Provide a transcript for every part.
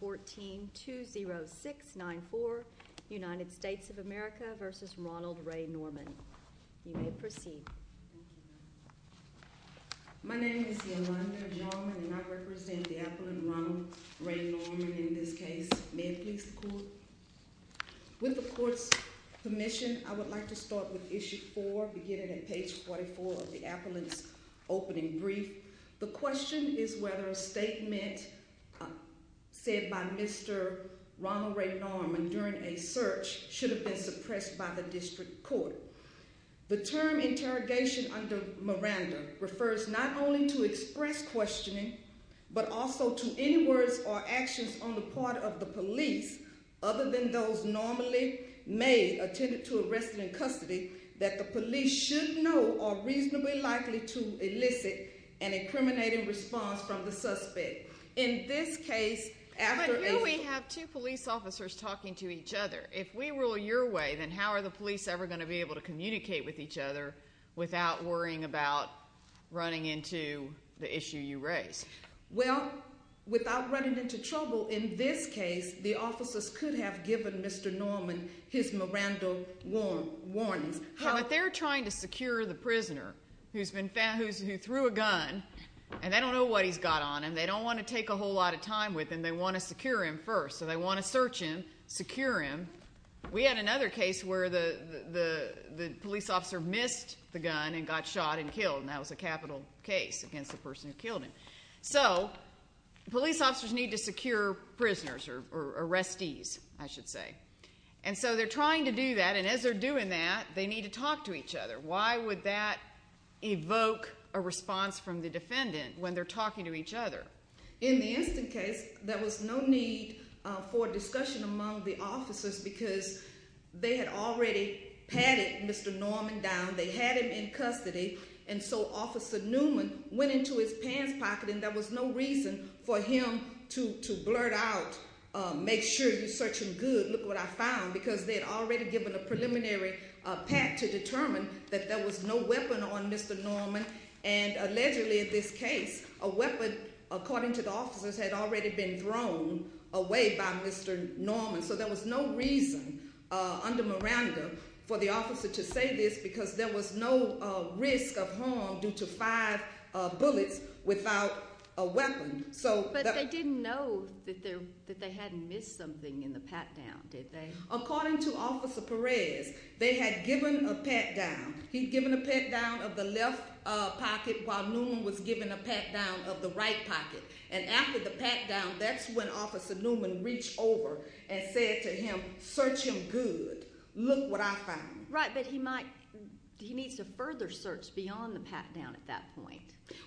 1420694, United States of America v. Ronald Ray Norman. You may proceed. My name is Yolanda Norman, and I represent the Appellant Ronald Ray Norman in this case. May it please the Court? With the Court's permission, I would like to start with Issue 4, beginning at page 44 of the Appellant's opening brief. The question is whether a statement said by Mr. Ronald Ray Norman during a search should have been suppressed by the District Court. The term interrogation under Miranda refers not only to express questioning, but also to any words or actions on the part of the police, other than those normally made, attended to, arrested in custody, that the police should know are reasonably likely to elicit an incriminating response from the suspect. In this case, after a… But here we have two police officers talking to each other. If we rule your way, then how are the police ever going to be able to communicate with each other without worrying about running into the issue you raise? Well, without running into trouble, in this case, the officers could have given Mr. Norman his Miranda warnings. But they're trying to secure the prisoner who threw a gun, and they don't know what he's got on him. They don't want to take a whole lot of time with him. They want to secure him first, so they want to search him, secure him. We had another case where the police officer missed the gun and got shot and killed, and that was a capital case against the person who killed him. So police officers need to secure prisoners or arrestees, I should say. And so they're trying to do that, and as they're doing that, they need to talk to each other. Why would that evoke a response from the defendant when they're talking to each other? In the instant case, there was no need for discussion among the officers because they had already patted Mr. Norman down. They had him in custody, and so Officer Newman went into his pants pocket, and there was no reason for him to blurt out, make sure you search him good, look what I found. Because they had already given a preliminary pat to determine that there was no weapon on Mr. Norman. And allegedly, in this case, a weapon, according to the officers, had already been thrown away by Mr. Norman. So there was no reason under Miranda for the officer to say this, because there was no risk of harm due to five bullets without a weapon. But they didn't know that they hadn't missed something in the pat down, did they? According to Officer Perez, they had given a pat down. He'd given a pat down of the left pocket while Newman was giving a pat down of the right pocket. And after the pat down, that's when Officer Newman reached over and said to him, search him good, look what I found. Right, but he needs to further search beyond the pat down at that point.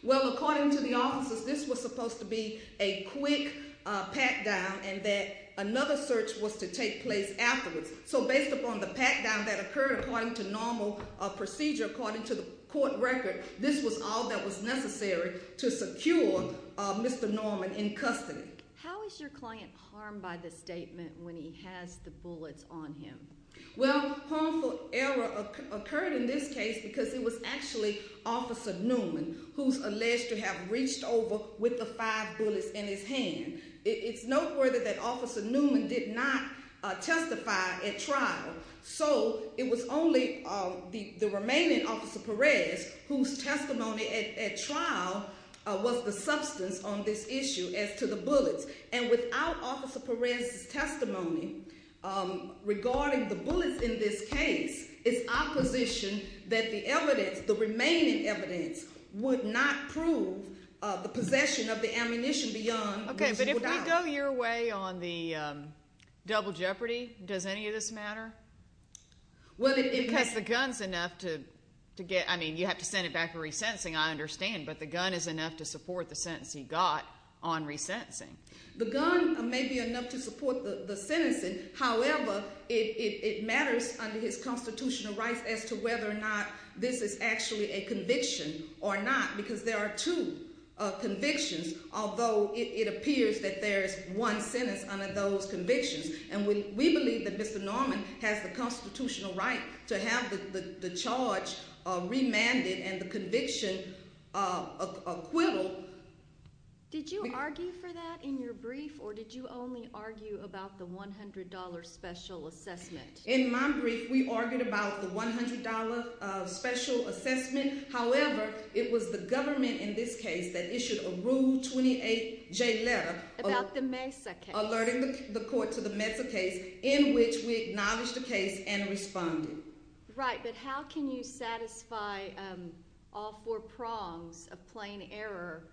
Well, according to the officers, this was supposed to be a quick pat down and that another search was to take place afterwards. So based upon the pat down that occurred, according to normal procedure, according to the court record, this was all that was necessary to secure Mr. Norman in custody. How is your client harmed by the statement when he has the bullets on him? Well, harmful error occurred in this case because it was actually Officer Newman who's alleged to have reached over with the five bullets in his hand. It's noteworthy that Officer Newman did not testify at trial. So it was only the remaining Officer Perez, whose testimony at trial was the substance on this issue as to the bullets. And without Officer Perez's testimony regarding the bullets in this case, it's our position that the evidence, the remaining evidence, would not prove the possession of the ammunition beyond- Okay, but if we go your way on the double jeopardy, does any of this matter? Well, it- Because the gun's enough to get, I mean, you have to send it back for resentencing, I understand, but the gun is enough to support the sentence he got on resentencing. The gun may be enough to support the sentencing. However, it matters under his constitutional rights as to whether or not this is actually a conviction or not, because there are two convictions, although it appears that there's one sentence under those convictions. And we believe that Mr. Norman has the constitutional right to have the charge remanded and the conviction acquittal. Did you argue for that in your brief, or did you only argue about the $100 special assessment? In my brief, we argued about the $100 special assessment. However, it was the government in this case that issued a Rule 28 J letter- About the Mesa case. Alerting the court to the Mesa case, in which we acknowledged the case and responded. Right, but how can you satisfy all four prongs of plain error,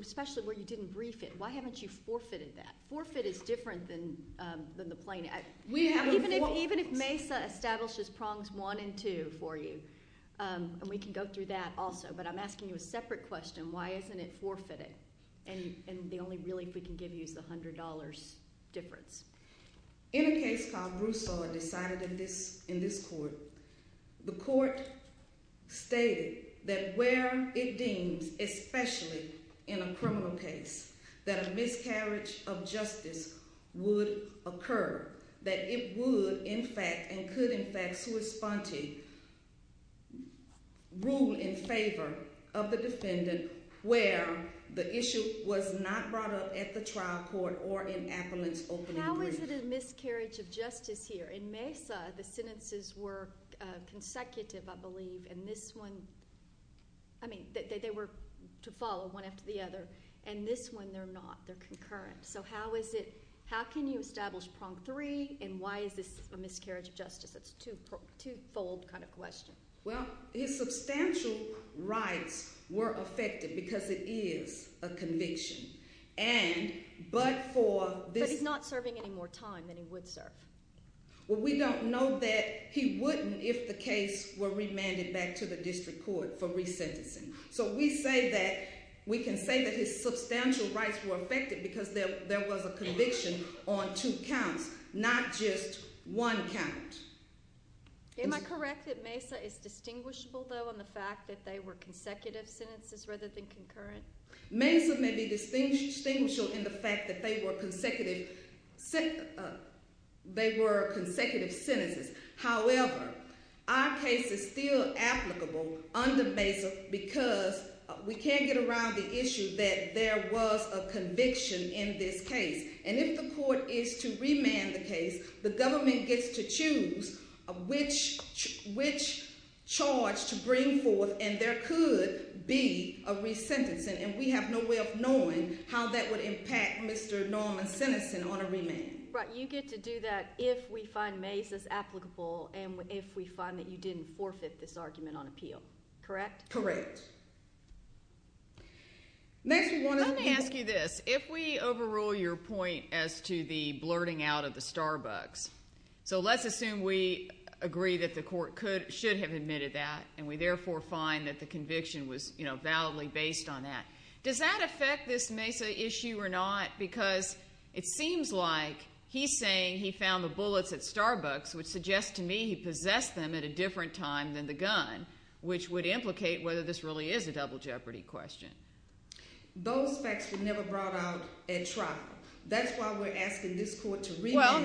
especially where you didn't brief it? Why haven't you forfeited that? Forfeit is different than the plain error. Even if Mesa establishes prongs one and two for you, and we can go through that also, but I'm asking you a separate question. Why isn't it forfeited? And the only relief we can give you is the $100 difference. In a case called Broussard decided in this court, the court stated that where it deems, especially in a criminal case, that a miscarriage of justice would occur, that it would, in fact, and could, in fact, to respond to, rule in favor of the defendant where the issue was not brought up at the trial court or in Appellant's opening brief. How is it a miscarriage of justice here? In Mesa, the sentences were consecutive, I believe, and this one, I mean, they were to follow one after the other. And this one, they're not. They're concurrent. So how is it, how can you establish prong three, and why is this a miscarriage of justice? It's a two-fold kind of question. Well, his substantial rights were affected because it is a conviction, and but for this- But he's not serving any more time than he would serve. Well, we don't know that he wouldn't if the case were remanded back to the district court for resentencing. So we say that, we can say that his substantial rights were affected because there was a conviction on two counts, not just one count. Am I correct that Mesa is distinguishable, though, on the fact that they were consecutive sentences rather than concurrent? Mesa may be distinguishable in the fact that they were consecutive sentences. However, our case is still applicable under Mesa because we can't get around the issue that there was a conviction in this case. And if the court is to remand the case, the government gets to choose which charge to bring forth, and there could be a resentencing. And we have no way of knowing how that would impact Mr. Norman's sentencing on a remand. But you get to do that if we find Mesa's applicable and if we find that you didn't forfeit this argument on appeal, correct? Correct. Next, we want to- Let me ask you this. If we overrule your point as to the blurting out of the Starbucks, so let's assume we agree that the court should have admitted that, and we therefore find that the conviction was, you know, validly based on that, does that affect this Mesa issue or not? Because it seems like he's saying he found the bullets at Starbucks, which suggests to me he possessed them at a different time than the gun, which would implicate whether this really is a double jeopardy question. Those facts were never brought out at trial. That's why we're asking this court to remand- Well,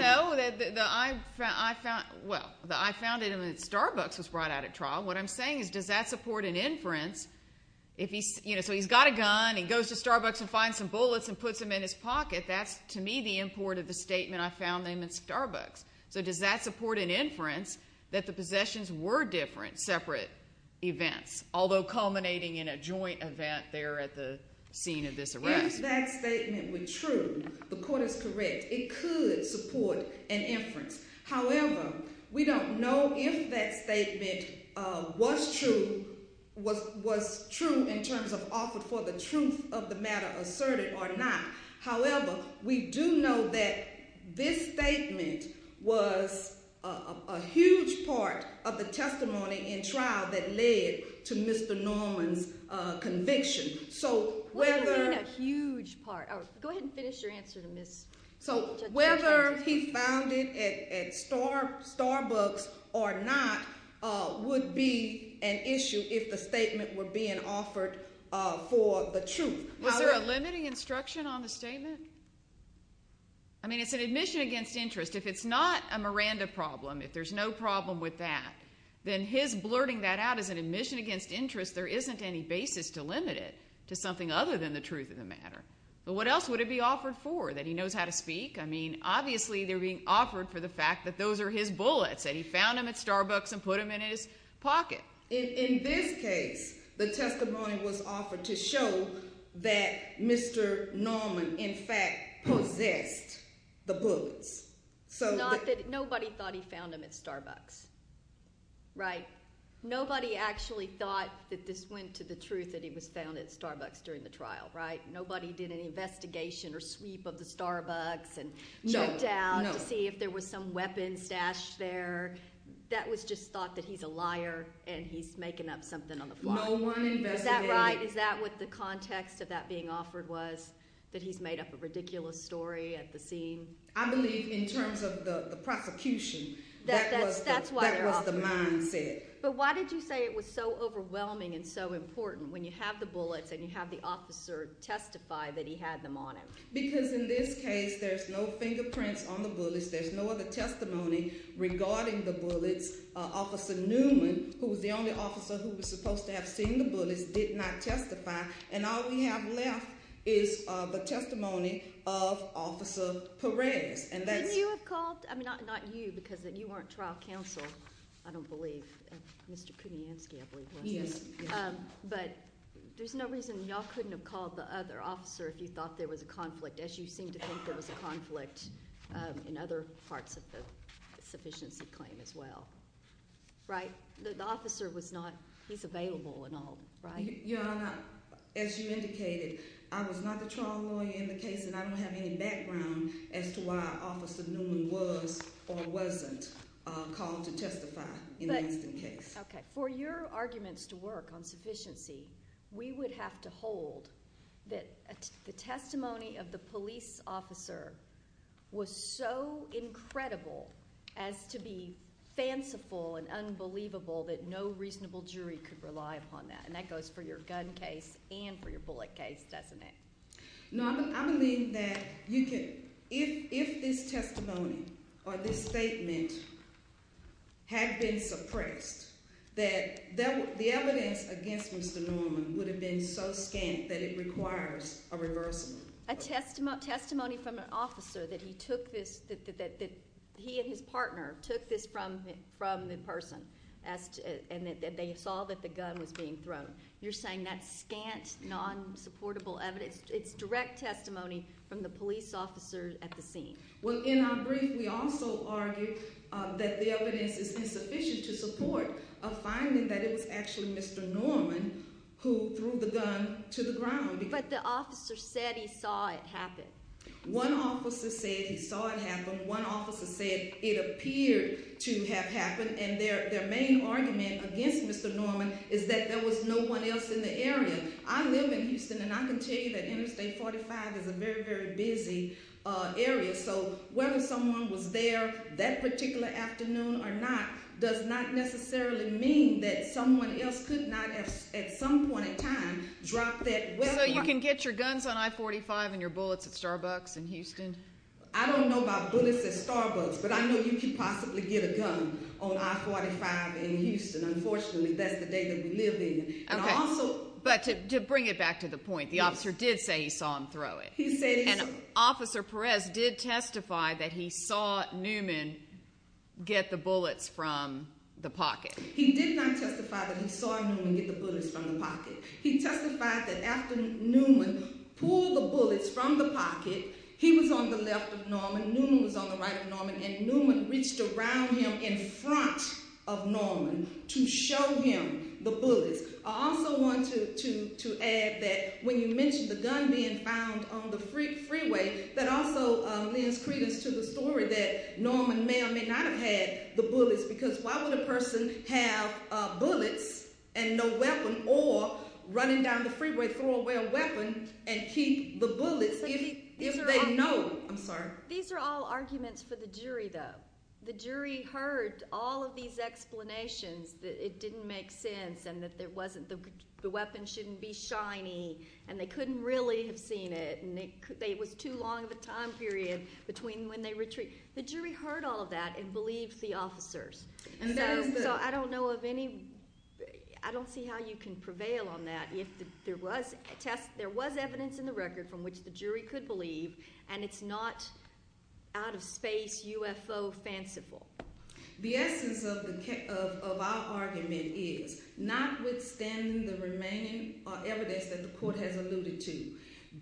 no. I found it in the Starbucks was brought out at trial. What I'm saying is does that support an inference? So he's got a gun. He goes to Starbucks and finds some bullets and puts them in his pocket. That's, to me, the import of the statement, I found them at Starbucks. So does that support an inference that the possessions were different, separate events, although culminating in a joint event there at the scene of this arrest? If that statement were true, the court is correct. It could support an inference. However, we don't know if that statement was true in terms of offered for the truth of the matter asserted or not. However, we do know that this statement was a huge part of the testimony in trial that led to Mr. Norman's conviction. So whether- What do you mean a huge part? Go ahead and finish your answer to Ms. Judge. Whether he found it at Starbucks or not would be an issue if the statement were being offered for the truth. Was there a limiting instruction on the statement? I mean, it's an admission against interest. If it's not a Miranda problem, if there's no problem with that, then his blurting that out is an admission against interest. There isn't any basis to limit it to something other than the truth of the matter. But what else would it be offered for, that he knows how to speak? I mean, obviously they're being offered for the fact that those are his bullets, that he found them at Starbucks and put them in his pocket. In this case, the testimony was offered to show that Mr. Norman, in fact, possessed the bullets. Not that nobody thought he found them at Starbucks, right? Nobody actually thought that this went to the truth, that he was found at Starbucks during the trial, right? Nobody did an investigation or sweep of the Starbucks and looked out to see if there was some weapons stashed there. That was just thought that he's a liar and he's making up something on the fly. No one investigated. Is that right? Is that what the context of that being offered was, that he's made up a ridiculous story at the scene? I believe in terms of the prosecution, that was the mindset. But why did you say it was so overwhelming and so important when you have the bullets and you have the officer testify that he had them on him? Because in this case, there's no fingerprints on the bullets. There's no other testimony regarding the bullets. Officer Newman, who was the only officer who was supposed to have seen the bullets, did not testify. And all we have left is the testimony of Officer Perez. Didn't you have called – I mean, not you because you weren't trial counsel. I don't believe – Mr. Kuniansky, I believe, wasn't it? Yes. But there's no reason y'all couldn't have called the other officer if you thought there was a conflict, as you seem to think there was a conflict in other parts of the sufficiency claim as well, right? The officer was not – he's available and all, right? Your Honor, as you indicated, I was not the trial lawyer in the case, and I don't have any background as to why Officer Newman was or wasn't called to testify in this case. Okay. For your arguments to work on sufficiency, we would have to hold that the testimony of the police officer was so incredible as to be fanciful and unbelievable that no reasonable jury could rely upon that. And that goes for your gun case and for your bullet case, doesn't it? No, I believe that you can – if this testimony or this statement had been suppressed, that the evidence against Mr. Norman would have been so scant that it requires a reversal. A testimony from an officer that he took this – that he and his partner took this from the person and that they saw that the gun was being thrown. You're saying that's scant, non-supportable evidence. It's direct testimony from the police officer at the scene. Well, in our brief, we also argue that the evidence is insufficient to support a finding that it was actually Mr. Norman who threw the gun to the ground. But the officer said he saw it happen. One officer said he saw it happen. One officer said it appeared to have happened. And their main argument against Mr. Norman is that there was no one else in the area. I live in Houston, and I can tell you that Interstate 45 is a very, very busy area. So whether someone was there that particular afternoon or not does not necessarily mean that someone else could not at some point in time drop that weapon. So you can get your guns on I-45 and your bullets at Starbucks in Houston? I don't know about bullets at Starbucks, but I know you could possibly get a gun on I-45 in Houston. Unfortunately, that's the day that we live in. But to bring it back to the point, the officer did say he saw him throw it. He said he saw it. And Officer Perez did testify that he saw Norman get the bullets from the pocket. He did not testify that he saw Norman get the bullets from the pocket. He testified that after Norman pulled the bullets from the pocket, he was on the left of Norman, Norman was on the right of Norman, and Norman reached around him in front of Norman to show him the bullets. I also wanted to add that when you mentioned the gun being found on the freeway, that also lends credence to the story that Norman may or may not have had the bullets, because why would a person have bullets and no weapon or running down the freeway throwing away a weapon and keep the bullets if they know? I'm sorry? These are all arguments for the jury, though. The jury heard all of these explanations that it didn't make sense and that the weapon shouldn't be shiny and they couldn't really have seen it and it was too long of a time period between when they retreated. The jury heard all of that and believed the officers. So I don't know of any—I don't see how you can prevail on that if there was evidence in the record from which the jury could believe and it's not out-of-space UFO fanciful. The essence of our argument is, notwithstanding the remaining evidence that the court has alluded to,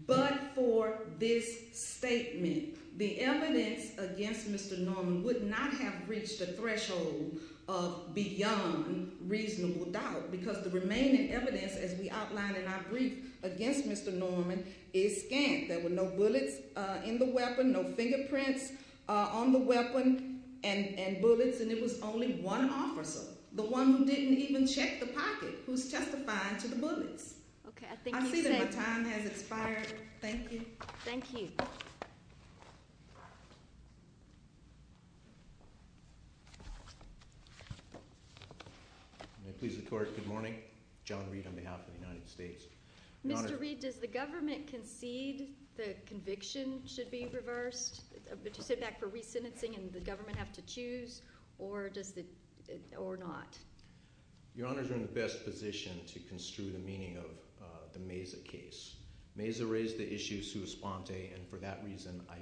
but for this statement, the evidence against Mr. Norman would not have reached a threshold of beyond reasonable doubt because the remaining evidence, as we outlined in our brief against Mr. Norman, is scant. There were no bullets in the weapon, no fingerprints on the weapon and bullets, and it was only one officer, the one who didn't even check the pocket, who's testifying to the bullets. I see that my time has expired. Thank you. Thank you. May it please the Court, good morning. John Reed on behalf of the United States. Mr. Reed, does the government concede the conviction should be reversed? Would you sit back for re-sentencing and the government have to choose or not? Your Honor, you're in the best position to construe the meaning of the Mesa case. Mesa raised the issue sous-spante, and for that reason I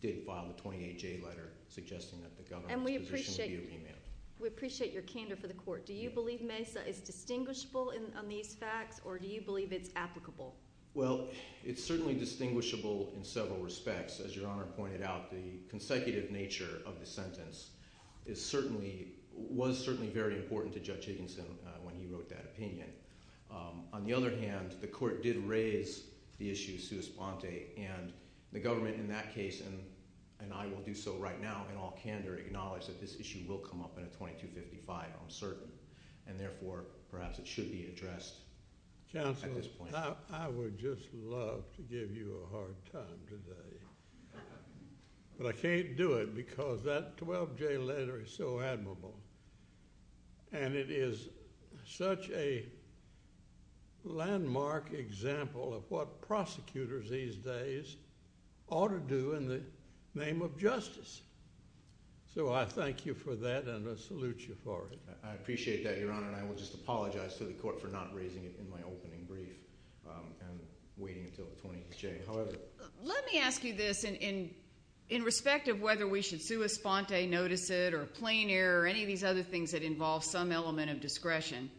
did file a 28-J letter suggesting that the government's position would be remanded. And we appreciate your candor for the Court. Do you believe Mesa is distinguishable on these facts, or do you believe it's applicable? Well, it's certainly distinguishable in several respects. As Your Honor pointed out, the consecutive nature of the sentence was certainly very important to Judge Higginson when he wrote that opinion. On the other hand, the Court did raise the issue sous-spante, and the government in that case, and I will do so right now in all candor, acknowledged that this issue will come up in a 2255, I'm certain. And therefore, perhaps it should be addressed at this point. Counsel, I would just love to give you a hard time today. But I can't do it because that 12-J letter is so admirable, and it is such a landmark example of what prosecutors these days ought to do in the name of justice. So I thank you for that, and I salute you for it. I appreciate that, Your Honor, and I will just apologize to the Court for not raising it in my opening brief and waiting until the 28-J. Let me ask you this in respect of whether we should sous-spante, notice it, or plein air, or any of these other things that involve some element of discretion.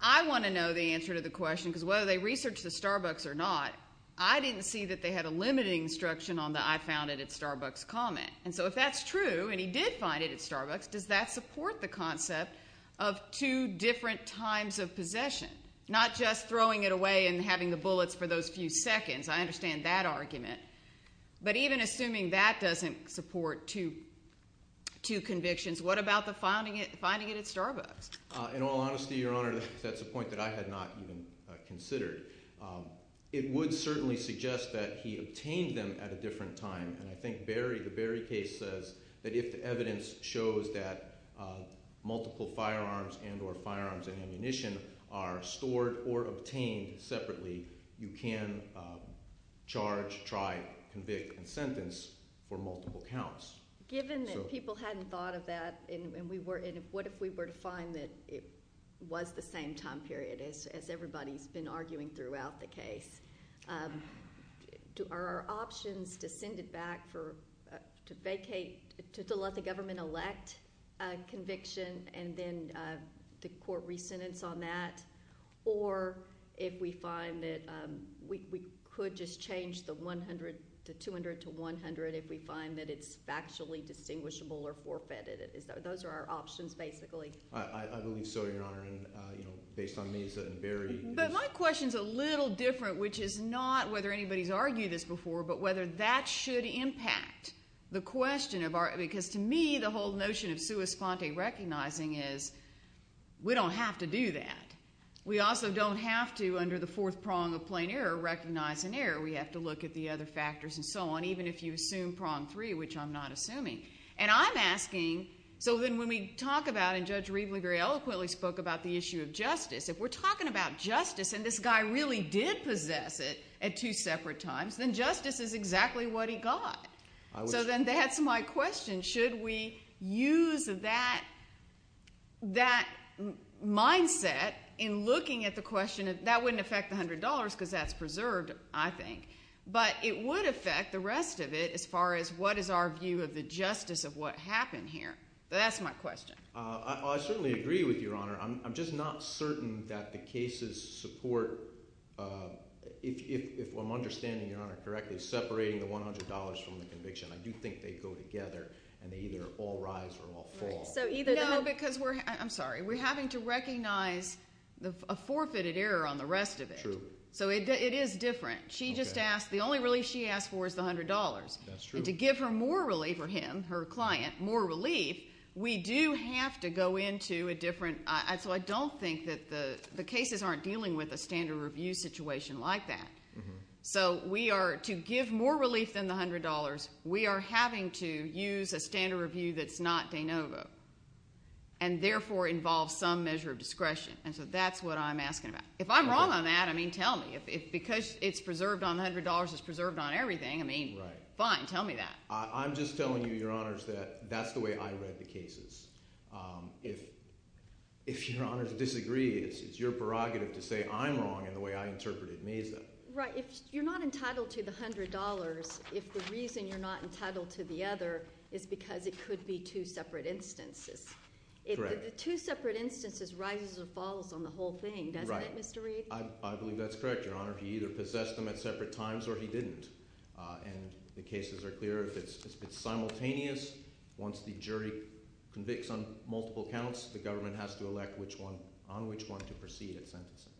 I want to know the answer to the question, because whether they researched the Starbucks or not, I didn't see that they had a limited instruction on the I found it at Starbucks comment. And so if that's true, and he did find it at Starbucks, does that support the concept of two different times of possession, not just throwing it away and having the bullets for those few seconds? I understand that argument. But even assuming that doesn't support two convictions, what about the finding it at Starbucks? In all honesty, Your Honor, that's a point that I had not even considered. It would certainly suggest that he obtained them at a different time, and I think the Berry case says that if the evidence shows that it's not stored or obtained separately, you can charge, try, convict, and sentence for multiple counts. Given that people hadn't thought of that, and what if we were to find that it was the same time period as everybody's been arguing throughout the case, are our options to send it back to let the government elect a conviction and then the court re-sentence on that, or if we find that we could just change the 200 to 100 if we find that it's factually distinguishable or forfeited? Those are our options, basically. I believe so, Your Honor, and based on Mesa and Berry. But my question's a little different, which is not whether anybody's argued this before, but whether that should impact the question of our – we don't have to do that. We also don't have to, under the fourth prong of plain error, recognize an error. We have to look at the other factors and so on, even if you assume prong three, which I'm not assuming. And I'm asking, so then when we talk about, and Judge Rievely very eloquently spoke about the issue of justice, if we're talking about justice, and this guy really did possess it at two separate times, then justice is exactly what he got. So then that's my question. Should we use that mindset in looking at the question of – that wouldn't affect the $100 because that's preserved, I think, but it would affect the rest of it as far as what is our view of the justice of what happened here. That's my question. I certainly agree with you, Your Honor. I'm just not certain that the cases support – if I'm understanding Your Honor correctly, separating the $100 from the conviction, I do think they go together and they either all rise or all fall. No, because we're – I'm sorry. We're having to recognize a forfeited error on the rest of it. True. So it is different. She just asked – the only relief she asked for is the $100. That's true. And to give her more relief, or him, her client, more relief, we do have to go into a different – so I don't think that the cases aren't dealing with a standard review situation like that. So we are – to give more relief than the $100, we are having to use a standard review that's not de novo and therefore involves some measure of discretion. And so that's what I'm asking about. If I'm wrong on that, I mean, tell me. Because it's preserved on the $100, it's preserved on everything. I mean, fine. Tell me that. I'm just telling you, Your Honors, that that's the way I read the cases. If Your Honors disagree, it's your prerogative to say I'm wrong in the way I interpreted Mesa. Right. If you're not entitled to the $100, if the reason you're not entitled to the other is because it could be two separate instances. Correct. If the two separate instances rises or falls on the whole thing, doesn't it, Mr. Reed? Right. I believe that's correct, Your Honor. He either possessed them at separate times or he didn't. And the cases are clear. If it's simultaneous, once the jury convicts on multiple counts, the government has to elect on which one to proceed at sentencing.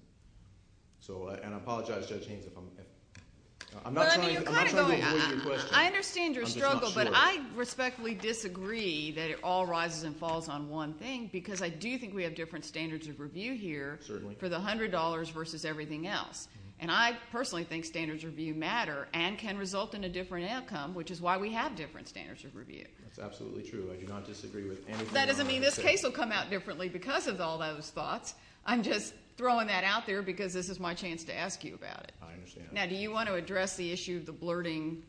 And I apologize, Judge Haynes, if I'm not trying to avoid your question. I understand your struggle, but I respectfully disagree that it all rises and falls on one thing because I do think we have different standards of review here for the $100 versus everything else. And I personally think standards of review matter and can result in a different outcome, which is why we have different standards of review. That's absolutely true. I do not disagree with anything Your Honor has said. That doesn't mean this case will come out differently because of all those thoughts. I'm just throwing that out there because this is my chance to ask you about it. I understand. Now, do you want to address the issue of the blurting?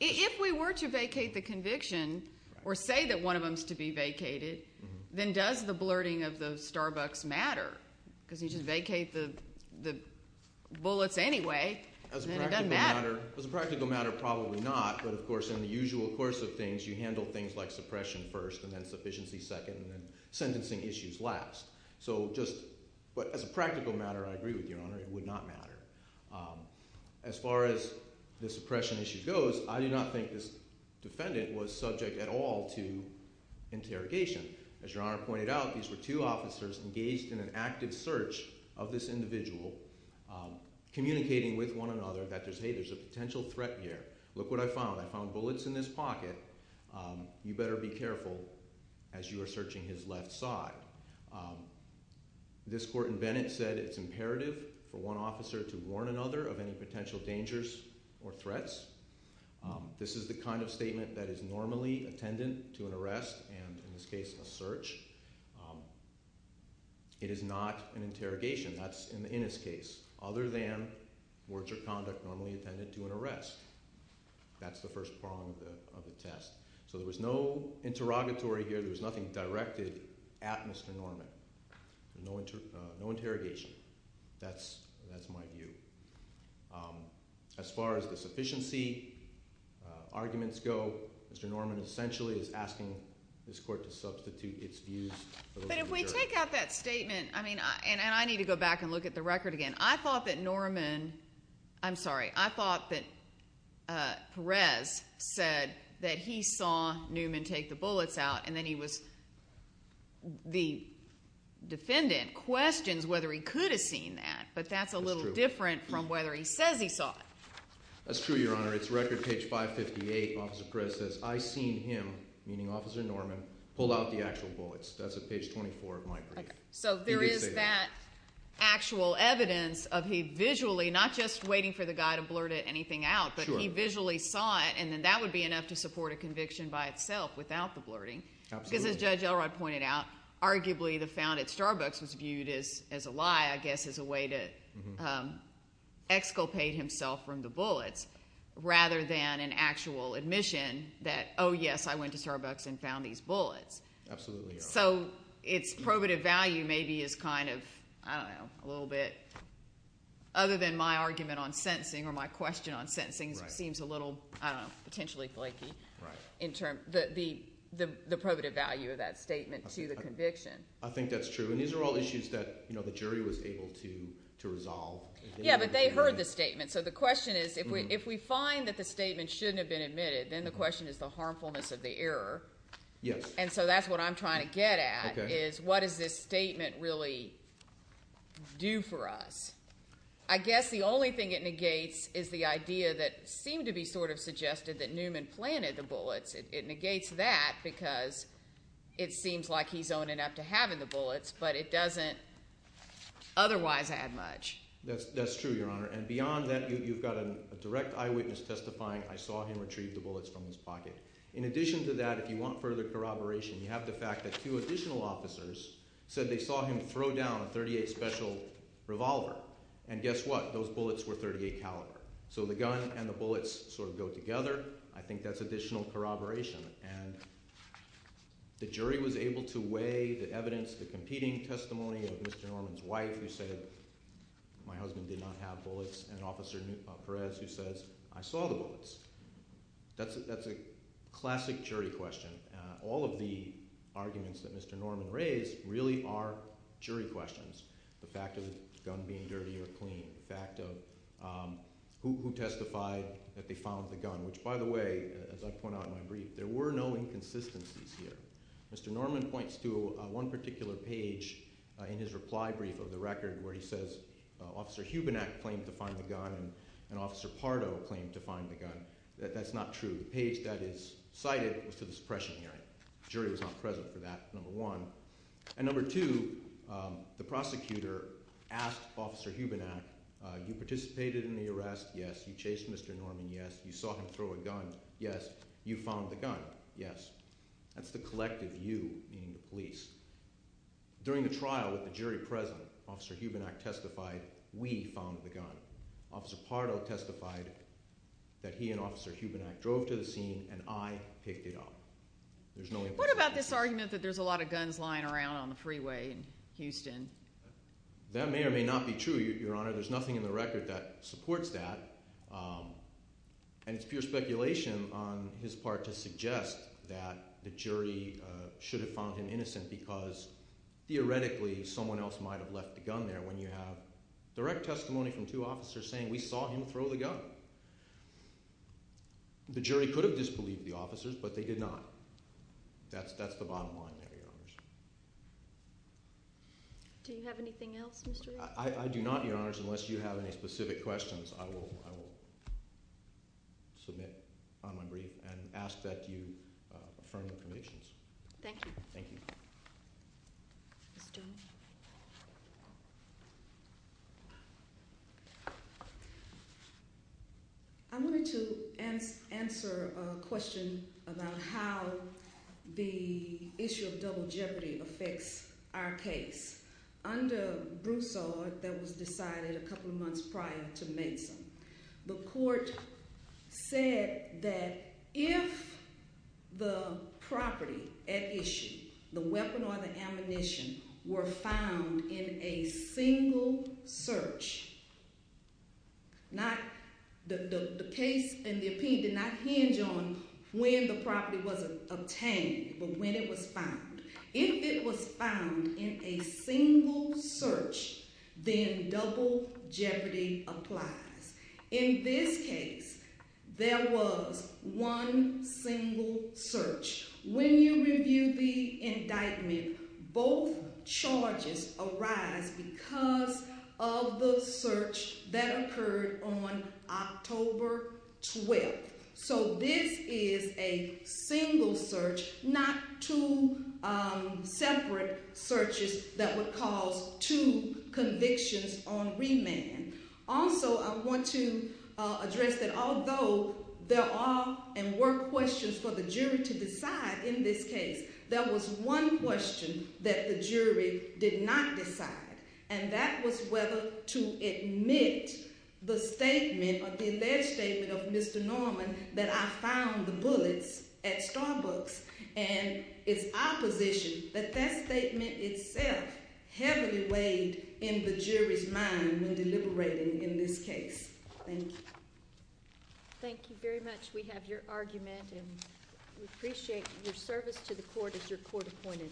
If we were to vacate the conviction or say that one of them is to be vacated, then does the blurting of the Starbucks matter? Because you just vacate the bullets anyway, and then it doesn't matter. As a practical matter, probably not. But, of course, in the usual course of things, you handle things like suppression first and then sufficiency second and then sentencing issues last. So just as a practical matter, I agree with you, Your Honor. It would not matter. As far as the suppression issue goes, I do not think this defendant was subject at all to interrogation. As Your Honor pointed out, these were two officers engaged in an active search of this individual, communicating with one another that, hey, there's a potential threat here. Look what I found. I found bullets in this pocket. You better be careful as you are searching his left side. This court in Bennett said it's imperative for one officer to warn another of any potential dangers or threats. This is the kind of statement that is normally attendant to an arrest and, in this case, a search. It is not an interrogation. That's in this case, other than words or conduct normally attendant to an arrest. That's the first prong of the test. So there was no interrogatory here. There was nothing directed at Mr. Norman. No interrogation. That's my view. As far as the sufficiency arguments go, Mr. Norman essentially is asking this court to substitute its views for those of the jury. But if we take out that statement, I mean, and I need to go back and look at the record again. I thought that Norman, I'm sorry, I thought that Perez said that he saw Newman take the bullets out and then he was the defendant, questions whether he could have seen that. But that's a little different from whether he says he saw it. That's true, Your Honor. It's record page 558. Officer Perez says, I seen him, meaning Officer Norman, pull out the actual bullets. That's at page 24 of my brief. So there is that actual evidence of he visually, not just waiting for the guy to blurt anything out, but he visually saw it. And then that would be enough to support a conviction by itself without the blurting. Absolutely. Because as Judge Elrod pointed out, arguably the found at Starbucks was viewed as a lie, I guess, as a way to exculpate himself from the bullets, rather than an actual admission that, oh, yes, I went to Starbucks and found these bullets. Absolutely, Your Honor. So its probative value maybe is kind of, I don't know, a little bit, other than my argument on sentencing or my question on sentencing, which seems a little, I don't know, potentially flaky in terms of the probative value of that statement to the conviction. I think that's true. And these are all issues that the jury was able to resolve. Yeah, but they heard the statement. So the question is if we find that the statement shouldn't have been admitted, then the question is the harmfulness of the error. Yes. And so that's what I'm trying to get at is what does this statement really do for us? I guess the only thing it negates is the idea that seemed to be sort of suggested that Newman planted the bullets. It negates that because it seems like he's owning up to having the bullets, but it doesn't otherwise add much. That's true, Your Honor. And beyond that, you've got a direct eyewitness testifying, I saw him retrieve the bullets from his pocket. In addition to that, if you want further corroboration, you have the fact that two additional officers said they saw him throw down a .38 special revolver. And guess what? Those bullets were .38 caliber. So the gun and the bullets sort of go together. I think that's additional corroboration. And the jury was able to weigh the evidence, the competing testimony of Mr. Norman's wife who said my husband did not have bullets and Officer Perez who says I saw the bullets. That's a classic jury question. All of the arguments that Mr. Norman raised really are jury questions. The fact of the gun being dirty or clean, the fact of who testified that they found the gun, which by the way, as I point out in my brief, there were no inconsistencies here. Mr. Norman points to one particular page in his reply brief of the record where he says Officer Hubenak claimed to find the gun and Officer Pardo claimed to find the gun. That's not true. The page that is cited was to the suppression hearing. The jury was not present for that, number one. And number two, the prosecutor asked Officer Hubenak, you participated in the arrest? Yes. You chased Mr. Norman? You saw him throw a gun? Yes. You found the gun? Yes. That's the collective you, meaning the police. During the trial with the jury present, Officer Hubenak testified we found the gun. Officer Pardo testified that he and Officer Hubenak drove to the scene and I picked it up. What about this argument that there's a lot of guns lying around on the freeway in Houston? That may or may not be true, Your Honor. There's nothing in the record that supports that. And it's pure speculation on his part to suggest that the jury should have found him innocent because theoretically someone else might have left the gun there when you have direct testimony from two officers saying we saw him throw the gun. The jury could have disbelieved the officers, but they did not. That's the bottom line there, Your Honors. Do you have anything else, Mr. Reardon? I do not, Your Honors. Unless you have any specific questions, I will submit on my brief and ask that you affirm your convictions. Thank you. Thank you. Ms. Jones? I wanted to answer a question about how the issue of double jeopardy affects our case. Under Broussard, that was decided a couple of months prior to Mason. The court said that if the property at issue, the weapon or the ammunition, were found in a single search, the case and the opinion did not hinge on when the property was obtained, but when it was found. If it was found in a single search, then double jeopardy applies. In this case, there was one single search. When you review the indictment, both charges arise because of the search that occurred on October 12th. So this is a single search, not two separate searches that would cause two convictions on remand. Also, I want to address that although there are and were questions for the jury to decide in this case, there was one question that the jury did not decide. And that was whether to admit the statement or the alleged statement of Mr. Norman that I found the bullets at Starbucks. And it's our position that that statement itself heavily weighed in the jury's mind when deliberating in this case. Thank you. Thank you very much. We have your argument and we appreciate your service to the court as your court appointed.